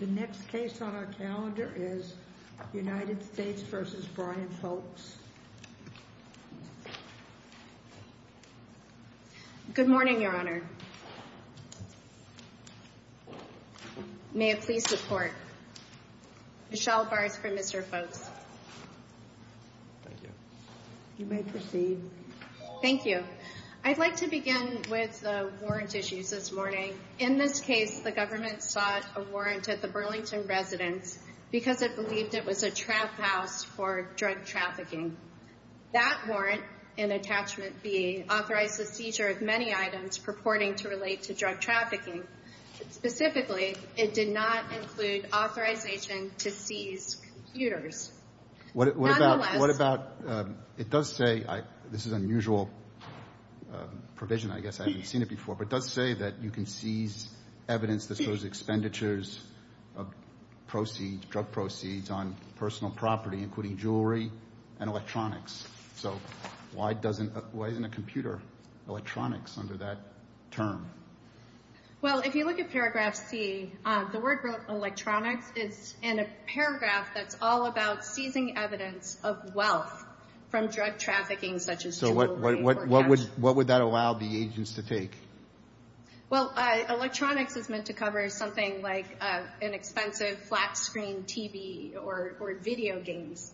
The next case on our calendar is United States v. Brian Folks. Good morning, Your Honor. May it please the Court. Michelle Bars for Mr. Folks. Thank you. You may proceed. Thank you. I'd like to begin with the warrant issues this morning. In this case, the government sought a warrant at the Burlington residence because it believed it was a trap house for drug trafficking. That warrant, in attachment B, authorized the seizure of many items purporting to relate to drug trafficking. Specifically, it did not include authorization to seize computers. What about, it does say, this is an unusual provision, I guess, I haven't seen it before, but it does say that you can seize evidence that shows expenditures of proceeds, drug proceeds on personal property, including jewelry and electronics. So why isn't a computer electronics under that term? Well, if you look at paragraph C, the word electronics is in a paragraph that's all about seizing evidence of wealth from drug trafficking, such as jewelry. So what would that allow the agents to take? Well, electronics is meant to cover something like inexpensive flat screen TV or video games.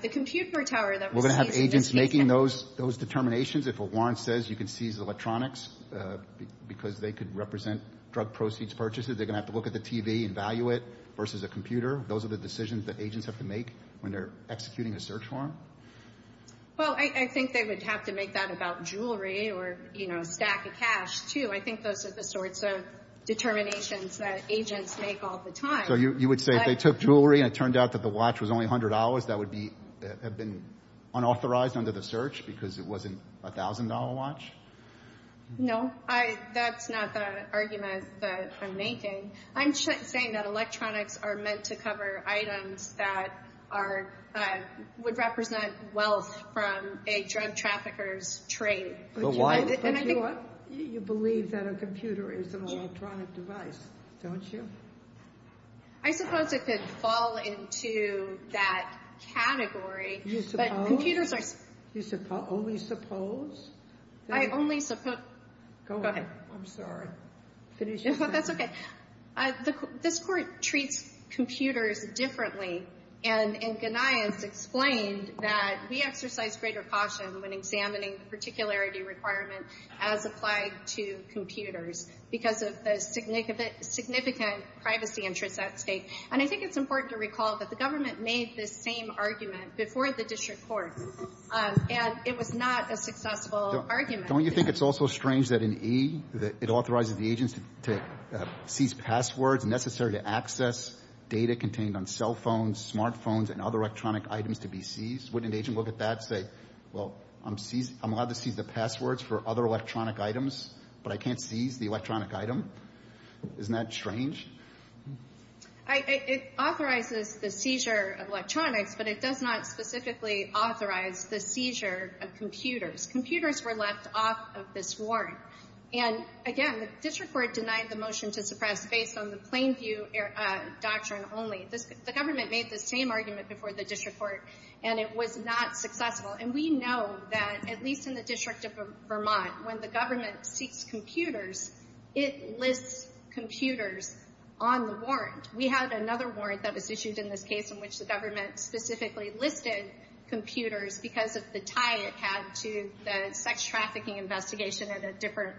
The computer tower that we're seizing. Those determinations, if a warrant says you can seize electronics because they could represent drug proceeds purchases, they're going to have to look at the TV and value it versus a computer. Those are the decisions that agents have to make when they're executing a search warrant. Well, I think they would have to make that about jewelry or, you know, stack of cash, too. I think those are the sorts of determinations that agents make all the time. So you would say if they took jewelry and it turned out that the watch was only $100, that would have been unauthorized under the search because it wasn't a $1,000 watch? No, that's not the argument that I'm making. I'm saying that electronics are meant to cover items that would represent wealth from a drug trafficker's trade. But you believe that a computer is an electronic device, don't you? I suppose it could fall into that category. You suppose? But computers are. You only suppose? I only suppose. Go ahead. I'm sorry. Finish your sentence. That's okay. This Court treats computers differently. And Ganias explained that we exercise greater caution when examining the particularity requirement as applied to computers because of the significant privacy interests at stake. And I think it's important to recall that the government made this same argument before the district court, and it was not a successful argument. Don't you think it's also strange that in E, it authorizes the agents to seize passwords necessary to access data contained on cell phones, smart phones, and other electronic items to be seized? Wouldn't an agent look at that and say, well, I'm allowed to seize the passwords for other electronic items, but I can't seize the electronic item? Isn't that strange? It authorizes the seizure of electronics, but it does not specifically authorize the seizure of computers. Computers were left off of this warrant. And, again, the district court denied the motion to suppress based on the plain view doctrine only. The government made this same argument before the district court, and it was not successful. And we know that, at least in the District of Vermont, when the government seeks computers, it lists computers on the warrant. We had another warrant that was issued in this case in which the government specifically listed computers because of the tie it had to the sex trafficking investigation at a different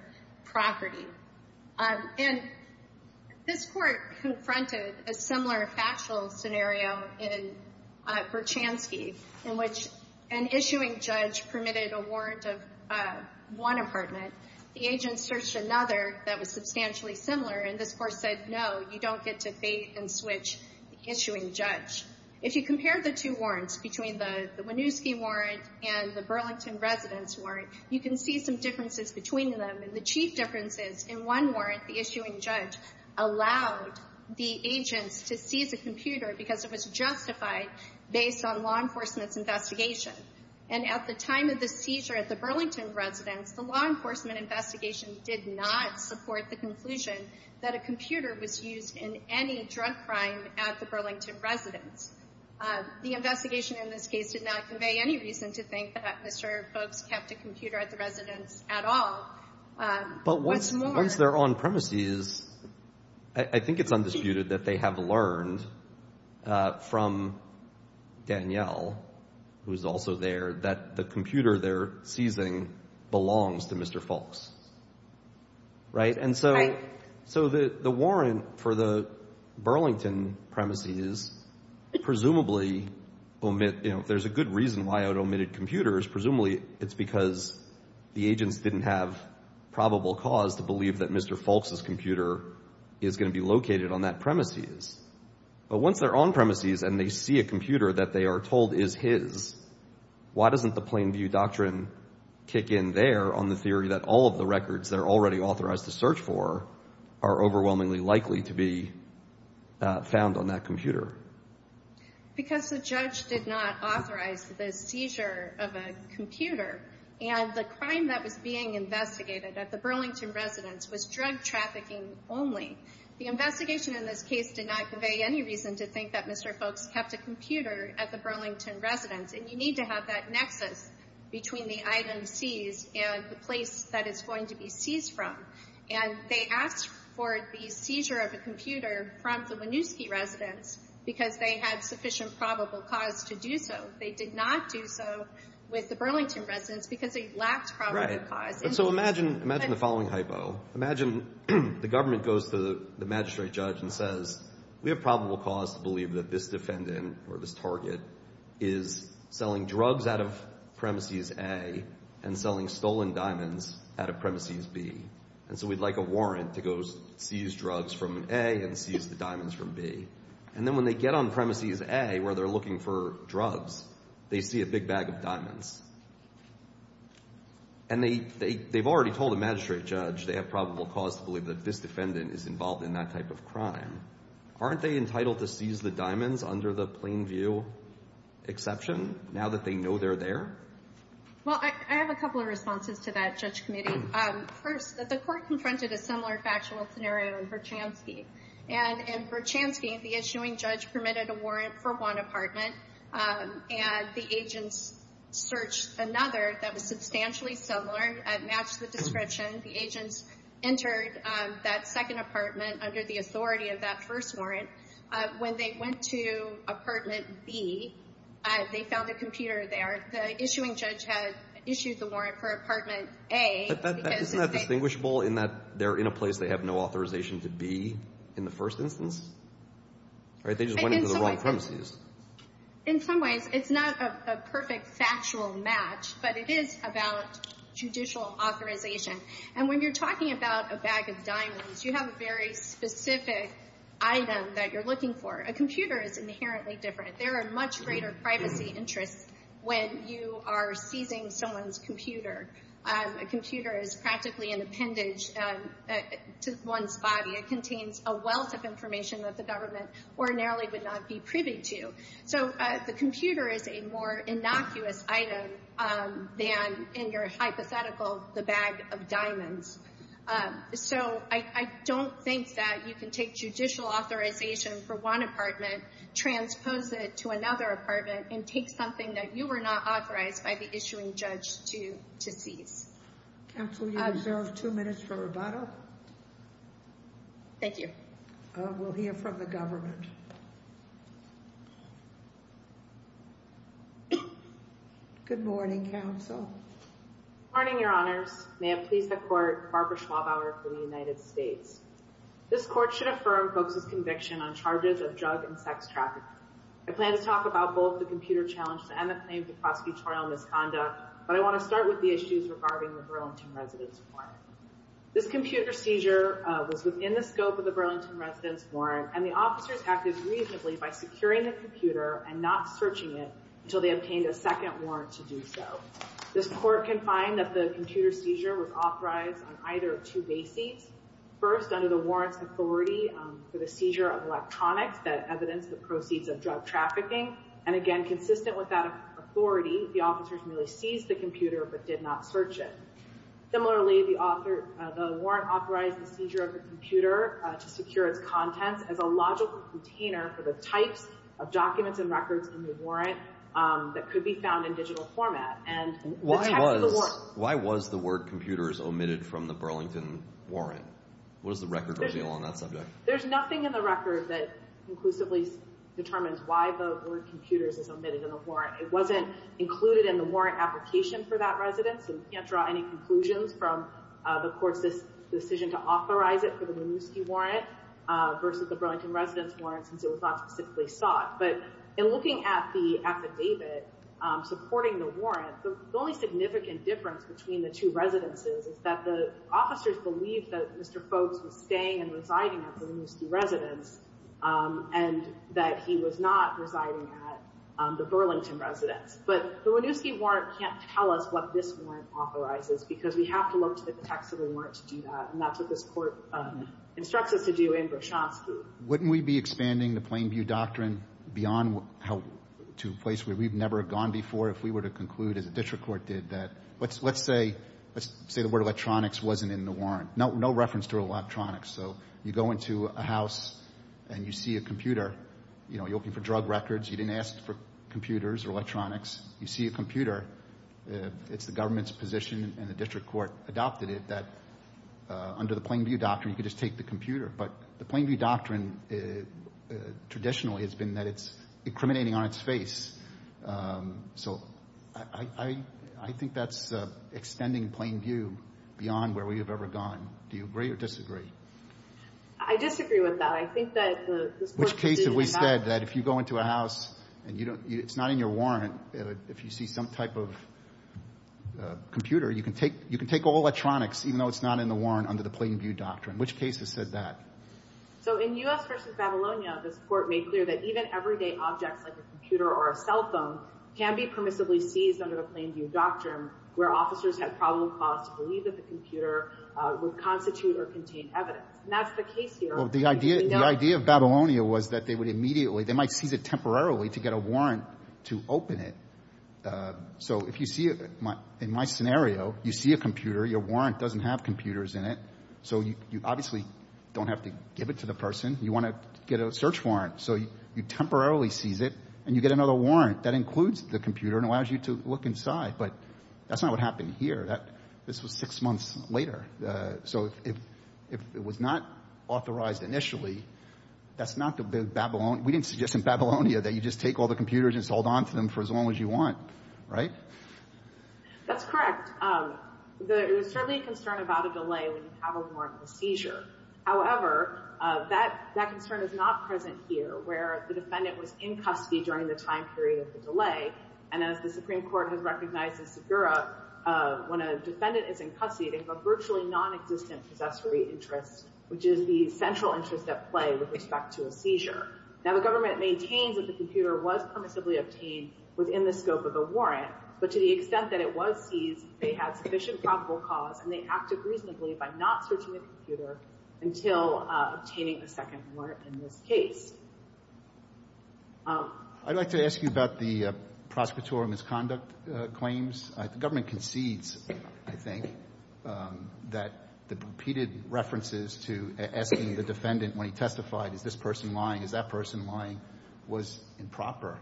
property. And this court confronted a similar factual scenario in Berchanski, in which an issuing judge permitted a warrant of one apartment. The agent searched another that was substantially similar, and this court said, no, you don't get to bait and switch the issuing judge. If you compare the two warrants, between the Winooski warrant and the Burlington residence warrant, you can see some differences between them. And the chief difference is, in one warrant, the issuing judge allowed the agents to seize a computer because it was justified based on law enforcement's investigation. And at the time of the seizure at the Burlington residence, the law enforcement investigation did not support the conclusion that a computer was used in any drug crime at the Burlington residence. The investigation in this case did not convey any reason to think that Mr. Folks kept a computer at the residence at all. But once they're on premises, I think it's undisputed that they have learned from Danielle, who is also there, that the computer they're seizing belongs to Mr. Folks, right? And so the warrant for the Burlington premises presumably omit, you know, there's a good reason why it omitted computers. Presumably it's because the agents didn't have probable cause to believe that Mr. Folks's computer is going to be located on that premises. But once they're on premises and they see a computer that they are told is his, why doesn't the plain view doctrine kick in there on the theory that all of the records that are already authorized to search for are overwhelmingly likely to be found on that computer? Because the judge did not authorize the seizure of a computer, and the crime that was being investigated at the Burlington residence was drug trafficking only. The investigation in this case did not convey any reason to think that Mr. Folks kept a computer at the Burlington residence. And you need to have that nexus between the item seized and the place that it's going to be seized from. And they asked for the seizure of a computer from the Winooski residence because they had sufficient probable cause to do so. They did not do so with the Burlington residence because they lacked probable cause. So imagine the following hypo. Imagine the government goes to the magistrate judge and says, we have probable cause to believe that this defendant or this target is selling drugs out of premises A and selling stolen diamonds out of premises B. And so we'd like a warrant to go seize drugs from A and seize the diamonds from B. And then when they get on premises A where they're looking for drugs, they see a big bag of diamonds. And they've already told the magistrate judge they have probable cause to believe that this defendant is involved in that type of crime. Aren't they entitled to seize the diamonds under the plain view exception now that they know they're there? Well, I have a couple of responses to that, Judge Committee. First, the court confronted a similar factual scenario in Verchansky. And in Verchansky, the issuing judge permitted a warrant for one apartment, and the agents searched another that was substantially similar and matched the description. The agents entered that second apartment under the authority of that first warrant. When they went to apartment B, they found a computer there. The issuing judge had issued the warrant for apartment A. Isn't that distinguishable in that they're in a place they have no authorization to be in the first instance? They just went into the wrong premises. In some ways, it's not a perfect factual match, but it is about judicial authorization. And when you're talking about a bag of diamonds, you have a very specific item that you're looking for. A computer is inherently different. There are much greater privacy interests when you are seizing someone's computer. A computer is practically an appendage to one's body. It contains a wealth of information that the government ordinarily would not be privy to. So the computer is a more innocuous item than, in your hypothetical, the bag of diamonds. So I don't think that you can take judicial authorization for one apartment, transpose it to another apartment, and take something that you were not authorized by the issuing judge to seize. Counsel, you have two minutes for rebuttal. Thank you. We'll hear from the government. Good morning, counsel. Good morning, Your Honors. May it please the Court, Barbara Schwabauer from the United States. This Court should affirm folks' conviction on charges of drug and sex trafficking. I plan to talk about both the computer challenge and the claims of prosecutorial misconduct, but I want to start with the issues regarding the Burlington Residence Warrant. This computer seizure was within the scope of the Burlington Residence Warrant, and the officers acted reasonably by securing the computer and not searching it until they obtained a second warrant to do so. This Court can find that the computer seizure was authorized on either of two bases. First, under the warrant's authority for the seizure of electronics that evidenced the proceeds of drug trafficking, and again, consistent with that authority, the officers merely seized the computer but did not search it. Similarly, the warrant authorized the seizure of the computer to secure its contents as a logical container for the types of documents and records in the warrant that could be found in digital format. Why was the word computers omitted from the Burlington Warrant? What does the record reveal on that subject? There's nothing in the record that conclusively determines why the word computers is omitted in the warrant. It wasn't included in the warrant application for that residence, and we can't draw any conclusions from the Court's decision to authorize it for the Winooski Warrant versus the Burlington Residence Warrant since it was not specifically sought. But in looking at the affidavit supporting the warrant, the only significant difference between the two residences is that the officers believed that Mr. Fogbes was staying and residing at the Winooski Residence and that he was not residing at the Burlington Residence. But the Winooski Warrant can't tell us what this warrant authorizes because we have to look to the text of the warrant to do that, and that's what this Court instructs us to do in Braschanski. Wouldn't we be expanding the Plainview Doctrine beyond to a place where we've never gone before if we were to conclude, as the district court did, that let's say the word electronics wasn't in the warrant. No reference to electronics. So you go into a house and you see a computer. You know, you're looking for drug records. You didn't ask for computers or electronics. You see a computer. It's the government's position, and the district court adopted it, that under the Plainview Doctrine you could just take the computer. But the Plainview Doctrine traditionally has been that it's incriminating on its face. So I think that's extending Plainview beyond where we have ever gone. Do you agree or disagree? I disagree with that. Which case have we said that if you go into a house and it's not in your warrant, if you see some type of computer, you can take all electronics, even though it's not in the warrant under the Plainview Doctrine? Which case has said that? So in U.S. v. Babylonia, this Court made clear that even everyday objects like a computer or a cell phone can be permissibly seized under the Plainview Doctrine, where officers have probable cause to believe that the computer would constitute or contain evidence, and that's the case here. Well, the idea of Babylonia was that they would immediately, they might seize it temporarily to get a warrant to open it. So if you see, in my scenario, you see a computer, your warrant doesn't have computers in it, so you obviously don't have to give it to the person. You want to get a search warrant. So you temporarily seize it, and you get another warrant. That includes the computer and allows you to look inside. But that's not what happened here. This was six months later. So if it was not authorized initially, that's not the Babylonia. We didn't suggest in Babylonia that you just take all the computers and just hold on to them for as long as you want. Right? That's correct. There is certainly a concern about a delay when you have a warrant for seizure. However, that concern is not present here, where the defendant was in custody during the time period of the delay. They have a virtually nonexistent possessory interest, which is the central interest at play with respect to a seizure. Now, the government maintains that the computer was permissibly obtained within the scope of a warrant, but to the extent that it was seized, they had sufficient probable cause, and they acted reasonably by not searching the computer until obtaining a second warrant in this case. I'd like to ask you about the prosecutorial misconduct claims. The government concedes, I think, that the repeated references to asking the defendant when he testified, is this person lying, is that person lying, was improper.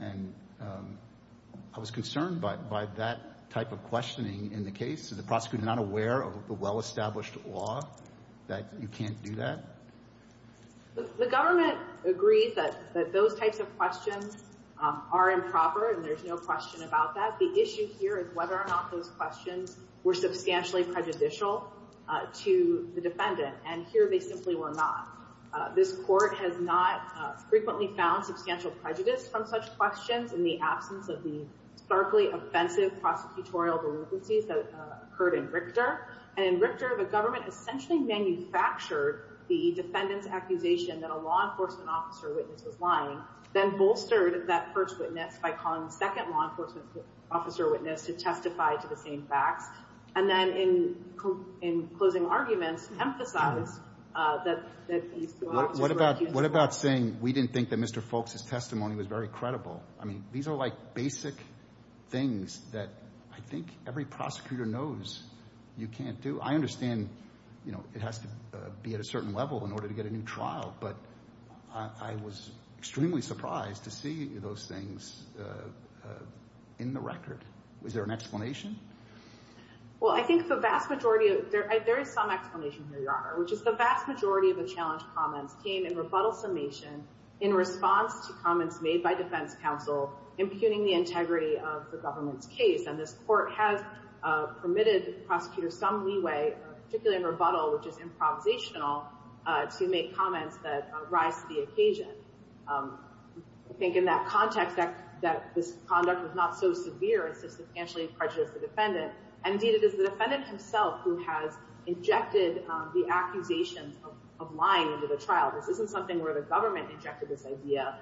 And I was concerned by that type of questioning in the case. Is the prosecutor not aware of the well-established law that you can't do that? The government agrees that those types of questions are improper, and there's no question about that. The issue here is whether or not those questions were substantially prejudicial to the defendant, and here they simply were not. This Court has not frequently found substantial prejudice from such questions in the absence of the starkly offensive prosecutorial delinquencies that occurred in Richter. And in Richter, the government essentially manufactured the defendant's accusation that a law enforcement officer witness was lying, then bolstered that first witness by calling the second law enforcement officer witness to testify to the same facts, and then in closing arguments emphasized that these two officers were accused of lying. What about saying we didn't think that Mr. Folks' testimony was very credible? I mean, these are like basic things that I think every prosecutor knows you can't do. I understand it has to be at a certain level in order to get a new trial, but I was extremely surprised to see those things in the record. Is there an explanation? Well, I think the vast majority of it, there is some explanation here, Your Honor, which is the vast majority of the challenge comments came in rebuttal summation in response to comments made by defense counsel impugning the integrity of the government's case. And this Court has permitted prosecutors some leeway, particularly in rebuttal, which is improvisational, to make comments that rise to the occasion. I think in that context that this conduct was not so severe and substantially prejudiced the defendant. Indeed, it is the defendant himself who has injected the accusations of lying into the trial. This isn't something where the government injected this idea.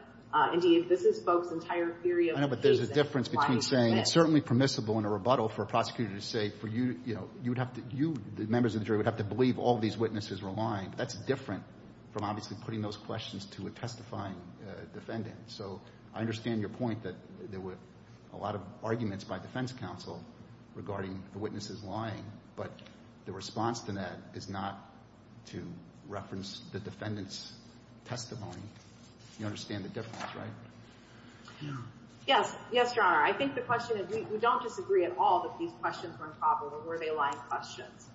Indeed, this is Folks' entire theory of the case. I know, but there's a difference between saying it's certainly permissible in a rebuttal for a prosecutor to say for you, you know, you would have to, you, the members of the jury would have to believe all these witnesses were lying. That's different from obviously putting those questions to a testifying defendant. So I understand your point that there were a lot of arguments by defense counsel regarding the witnesses lying, but the response to that is not to reference the defendant's testimony. Yes. Yes, Your Honor. I think the question is we don't disagree at all that these questions were improper or were they lying questions.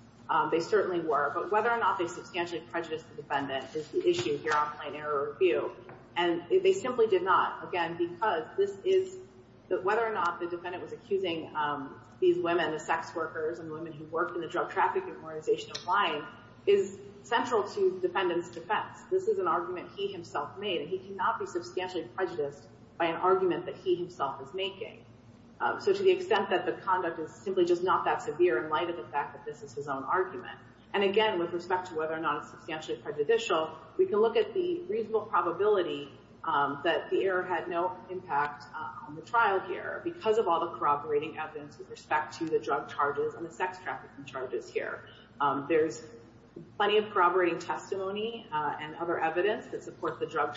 They certainly were. But whether or not they substantially prejudiced the defendant is the issue here on plain error review. And they simply did not. Again, because this is whether or not the defendant was accusing these women, the sex workers and women who worked in the drug trafficking organization of lying is central to the defendant's defense. This is an argument he himself made, and he cannot be substantially prejudiced by an argument that he himself is making. So to the extent that the conduct is simply just not that severe in light of the fact that this is his own argument. And, again, with respect to whether or not it's substantially prejudicial, we can look at the reasonable probability that the error had no impact on the trial here because of all the corroborating evidence with respect to the drug charges and the sex trafficking charges here. There's plenty of corroborating testimony and other evidence that supports the drug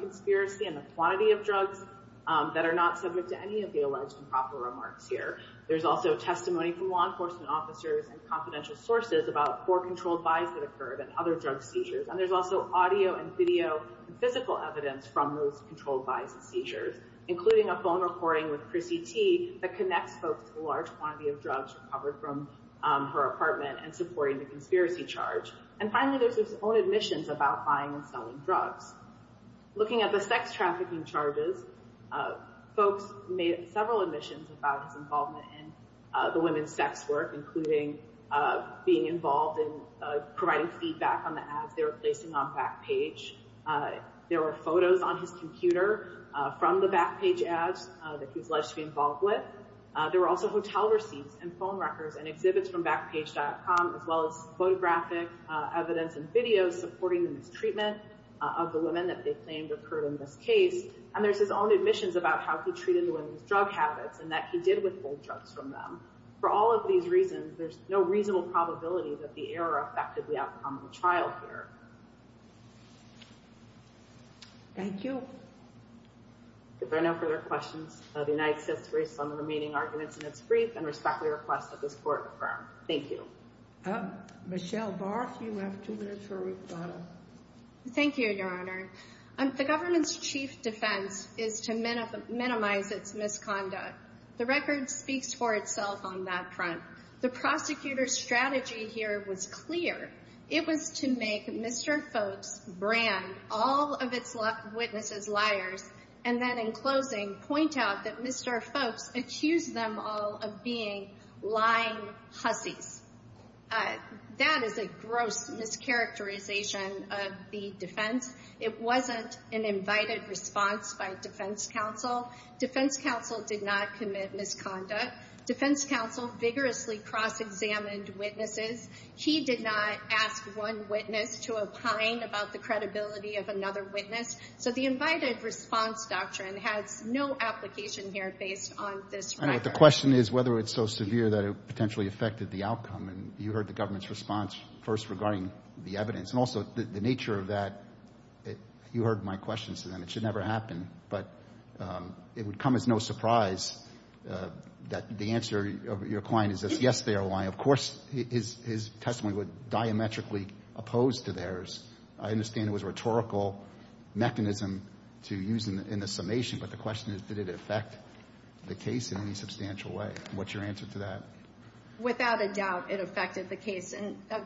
conspiracy and the quantity of drugs that are not subject to any of the alleged improper remarks here. There's also testimony from law enforcement officers and confidential sources about four controlled buys that occurred and other drug seizures. And there's also audio and video and physical evidence from those controlled buys and seizures, including a phone recording with Chrissy T. that connects folks to the large quantity of drugs recovered from her apartment and supporting the conspiracy charge. And, finally, there's his own admissions about buying and selling drugs. Looking at the sex trafficking charges, folks made several admissions about his involvement in the women's sex work, including being involved in providing feedback on the ads they were placing on Backpage. There were photos on his computer from the Backpage ads that he was alleged to be involved with. There were also hotel receipts and phone records and exhibits from evidence and videos supporting the mistreatment of the women that they claimed occurred in this case. And there's his own admissions about how he treated the women's drug habits and that he did withhold drugs from them. For all of these reasons, there's no reasonable probability that the error affected the outcome of the trial here. Thank you. If there are no further questions, the United States raised some remaining arguments in its brief and respectfully request that this Court confirm. Thank you. Michelle Barth, you have two minutes for rebuttal. Thank you, Your Honor. The government's chief defense is to minimize its misconduct. The record speaks for itself on that front. The prosecutor's strategy here was clear. It was to make Mr. Folks brand all of its witnesses liars and then, in closing, point out that Mr. Folks accused them all of being lying hussies. That is a gross mischaracterization of the defense. It wasn't an invited response by defense counsel. Defense counsel did not commit misconduct. Defense counsel vigorously cross-examined witnesses. He did not ask one witness to opine about the credibility of another witness. So the invited response doctrine has no application here based on this record. I know. But the question is whether it's so severe that it potentially affected the outcome. And you heard the government's response first regarding the evidence. And also, the nature of that, you heard my questions to them. It should never happen. But it would come as no surprise that the answer of your client is yes, they are lying. Of course, his testimony would diametrically oppose to theirs. I understand it was a rhetorical mechanism to use in the summation, but the question is did it affect the case in any substantial way? What's your answer to that? Without a doubt, it affected the case in a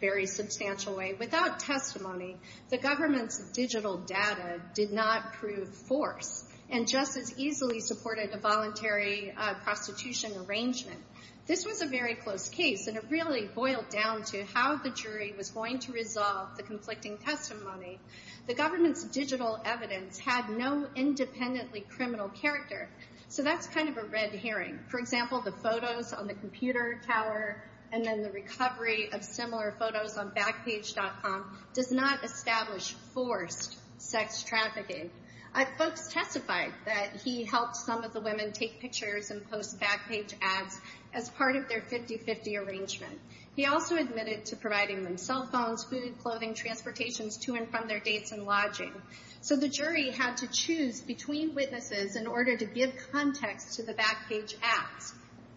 very substantial way. Without testimony, the government's digital data did not prove force and just as easily supported a voluntary prostitution arrangement. This was a very close case, and it really boiled down to how the jury was going to resolve the conflicting testimony. The government's digital evidence had no independently criminal character. So that's kind of a red herring. For example, the photos on the computer tower and then the recovery of similar photos on backpage.com does not establish forced sex trafficking. Folks testified that he helped some of the women take pictures and post back page ads as part of their 50-50 arrangement. He also admitted to providing them cell phones, food, clothing, transportations to and from their dates and lodging. So the jury had to choose between witnesses in order to give context to the back page ads.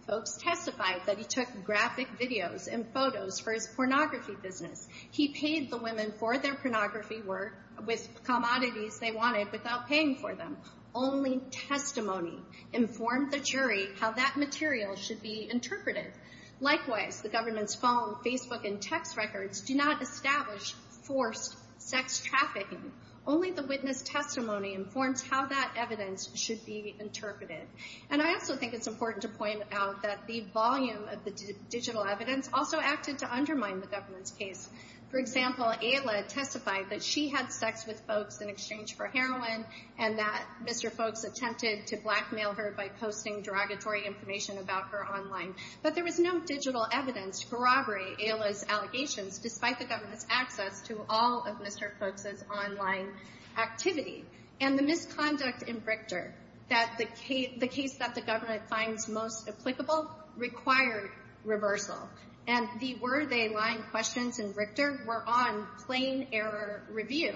Folks testified that he took graphic videos and photos for his pornography business. He paid the women for their pornography work with commodities they wanted without paying for them. Only testimony informed the jury how that material should be interpreted. Likewise, the government's phone, Facebook, and text records do not establish forced sex trafficking. Only the witness testimony informs how that evidence should be interpreted. And I also think it's important to point out that the volume of the digital evidence also acted to undermine the government's case. For example, Ayla testified that she had sex with Folks in exchange for heroin and that Mr. Folks attempted to blackmail her by posting derogatory information about her online. But there was no digital evidence to corroborate Ayla's allegations, despite the government's access to all of Mr. Folks's online activity. And the misconduct in Richter, the case that the government finds most applicable, required reversal. And the where-they-line questions in Richter were on plain error review.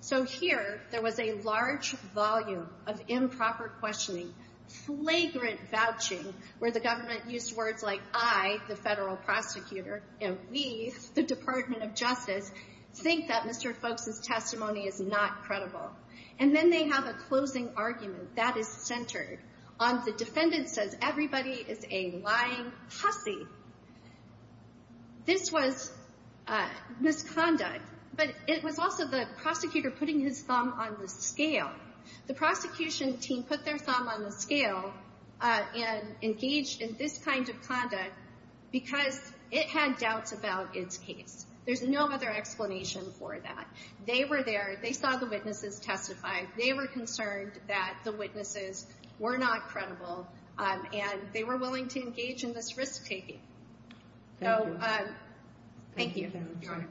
So here, there was a large volume of improper questioning, flagrant vouching, where the government used words like, I, the federal prosecutor, and we, the Department of Justice, think that Mr. Folks's testimony is not credible. And then they have a closing argument that is centered on the defendant says everybody is a lying pussy. This was misconduct. But it was also the prosecutor putting his thumb on the scale. The prosecution team put their thumb on the scale and engaged in this kind of conduct because it had doubts about its case. There's no other explanation for that. They were there. They saw the witnesses testify. They were concerned that the witnesses were not credible, and they were willing to engage in this risk-taking. Thank you. Thank you.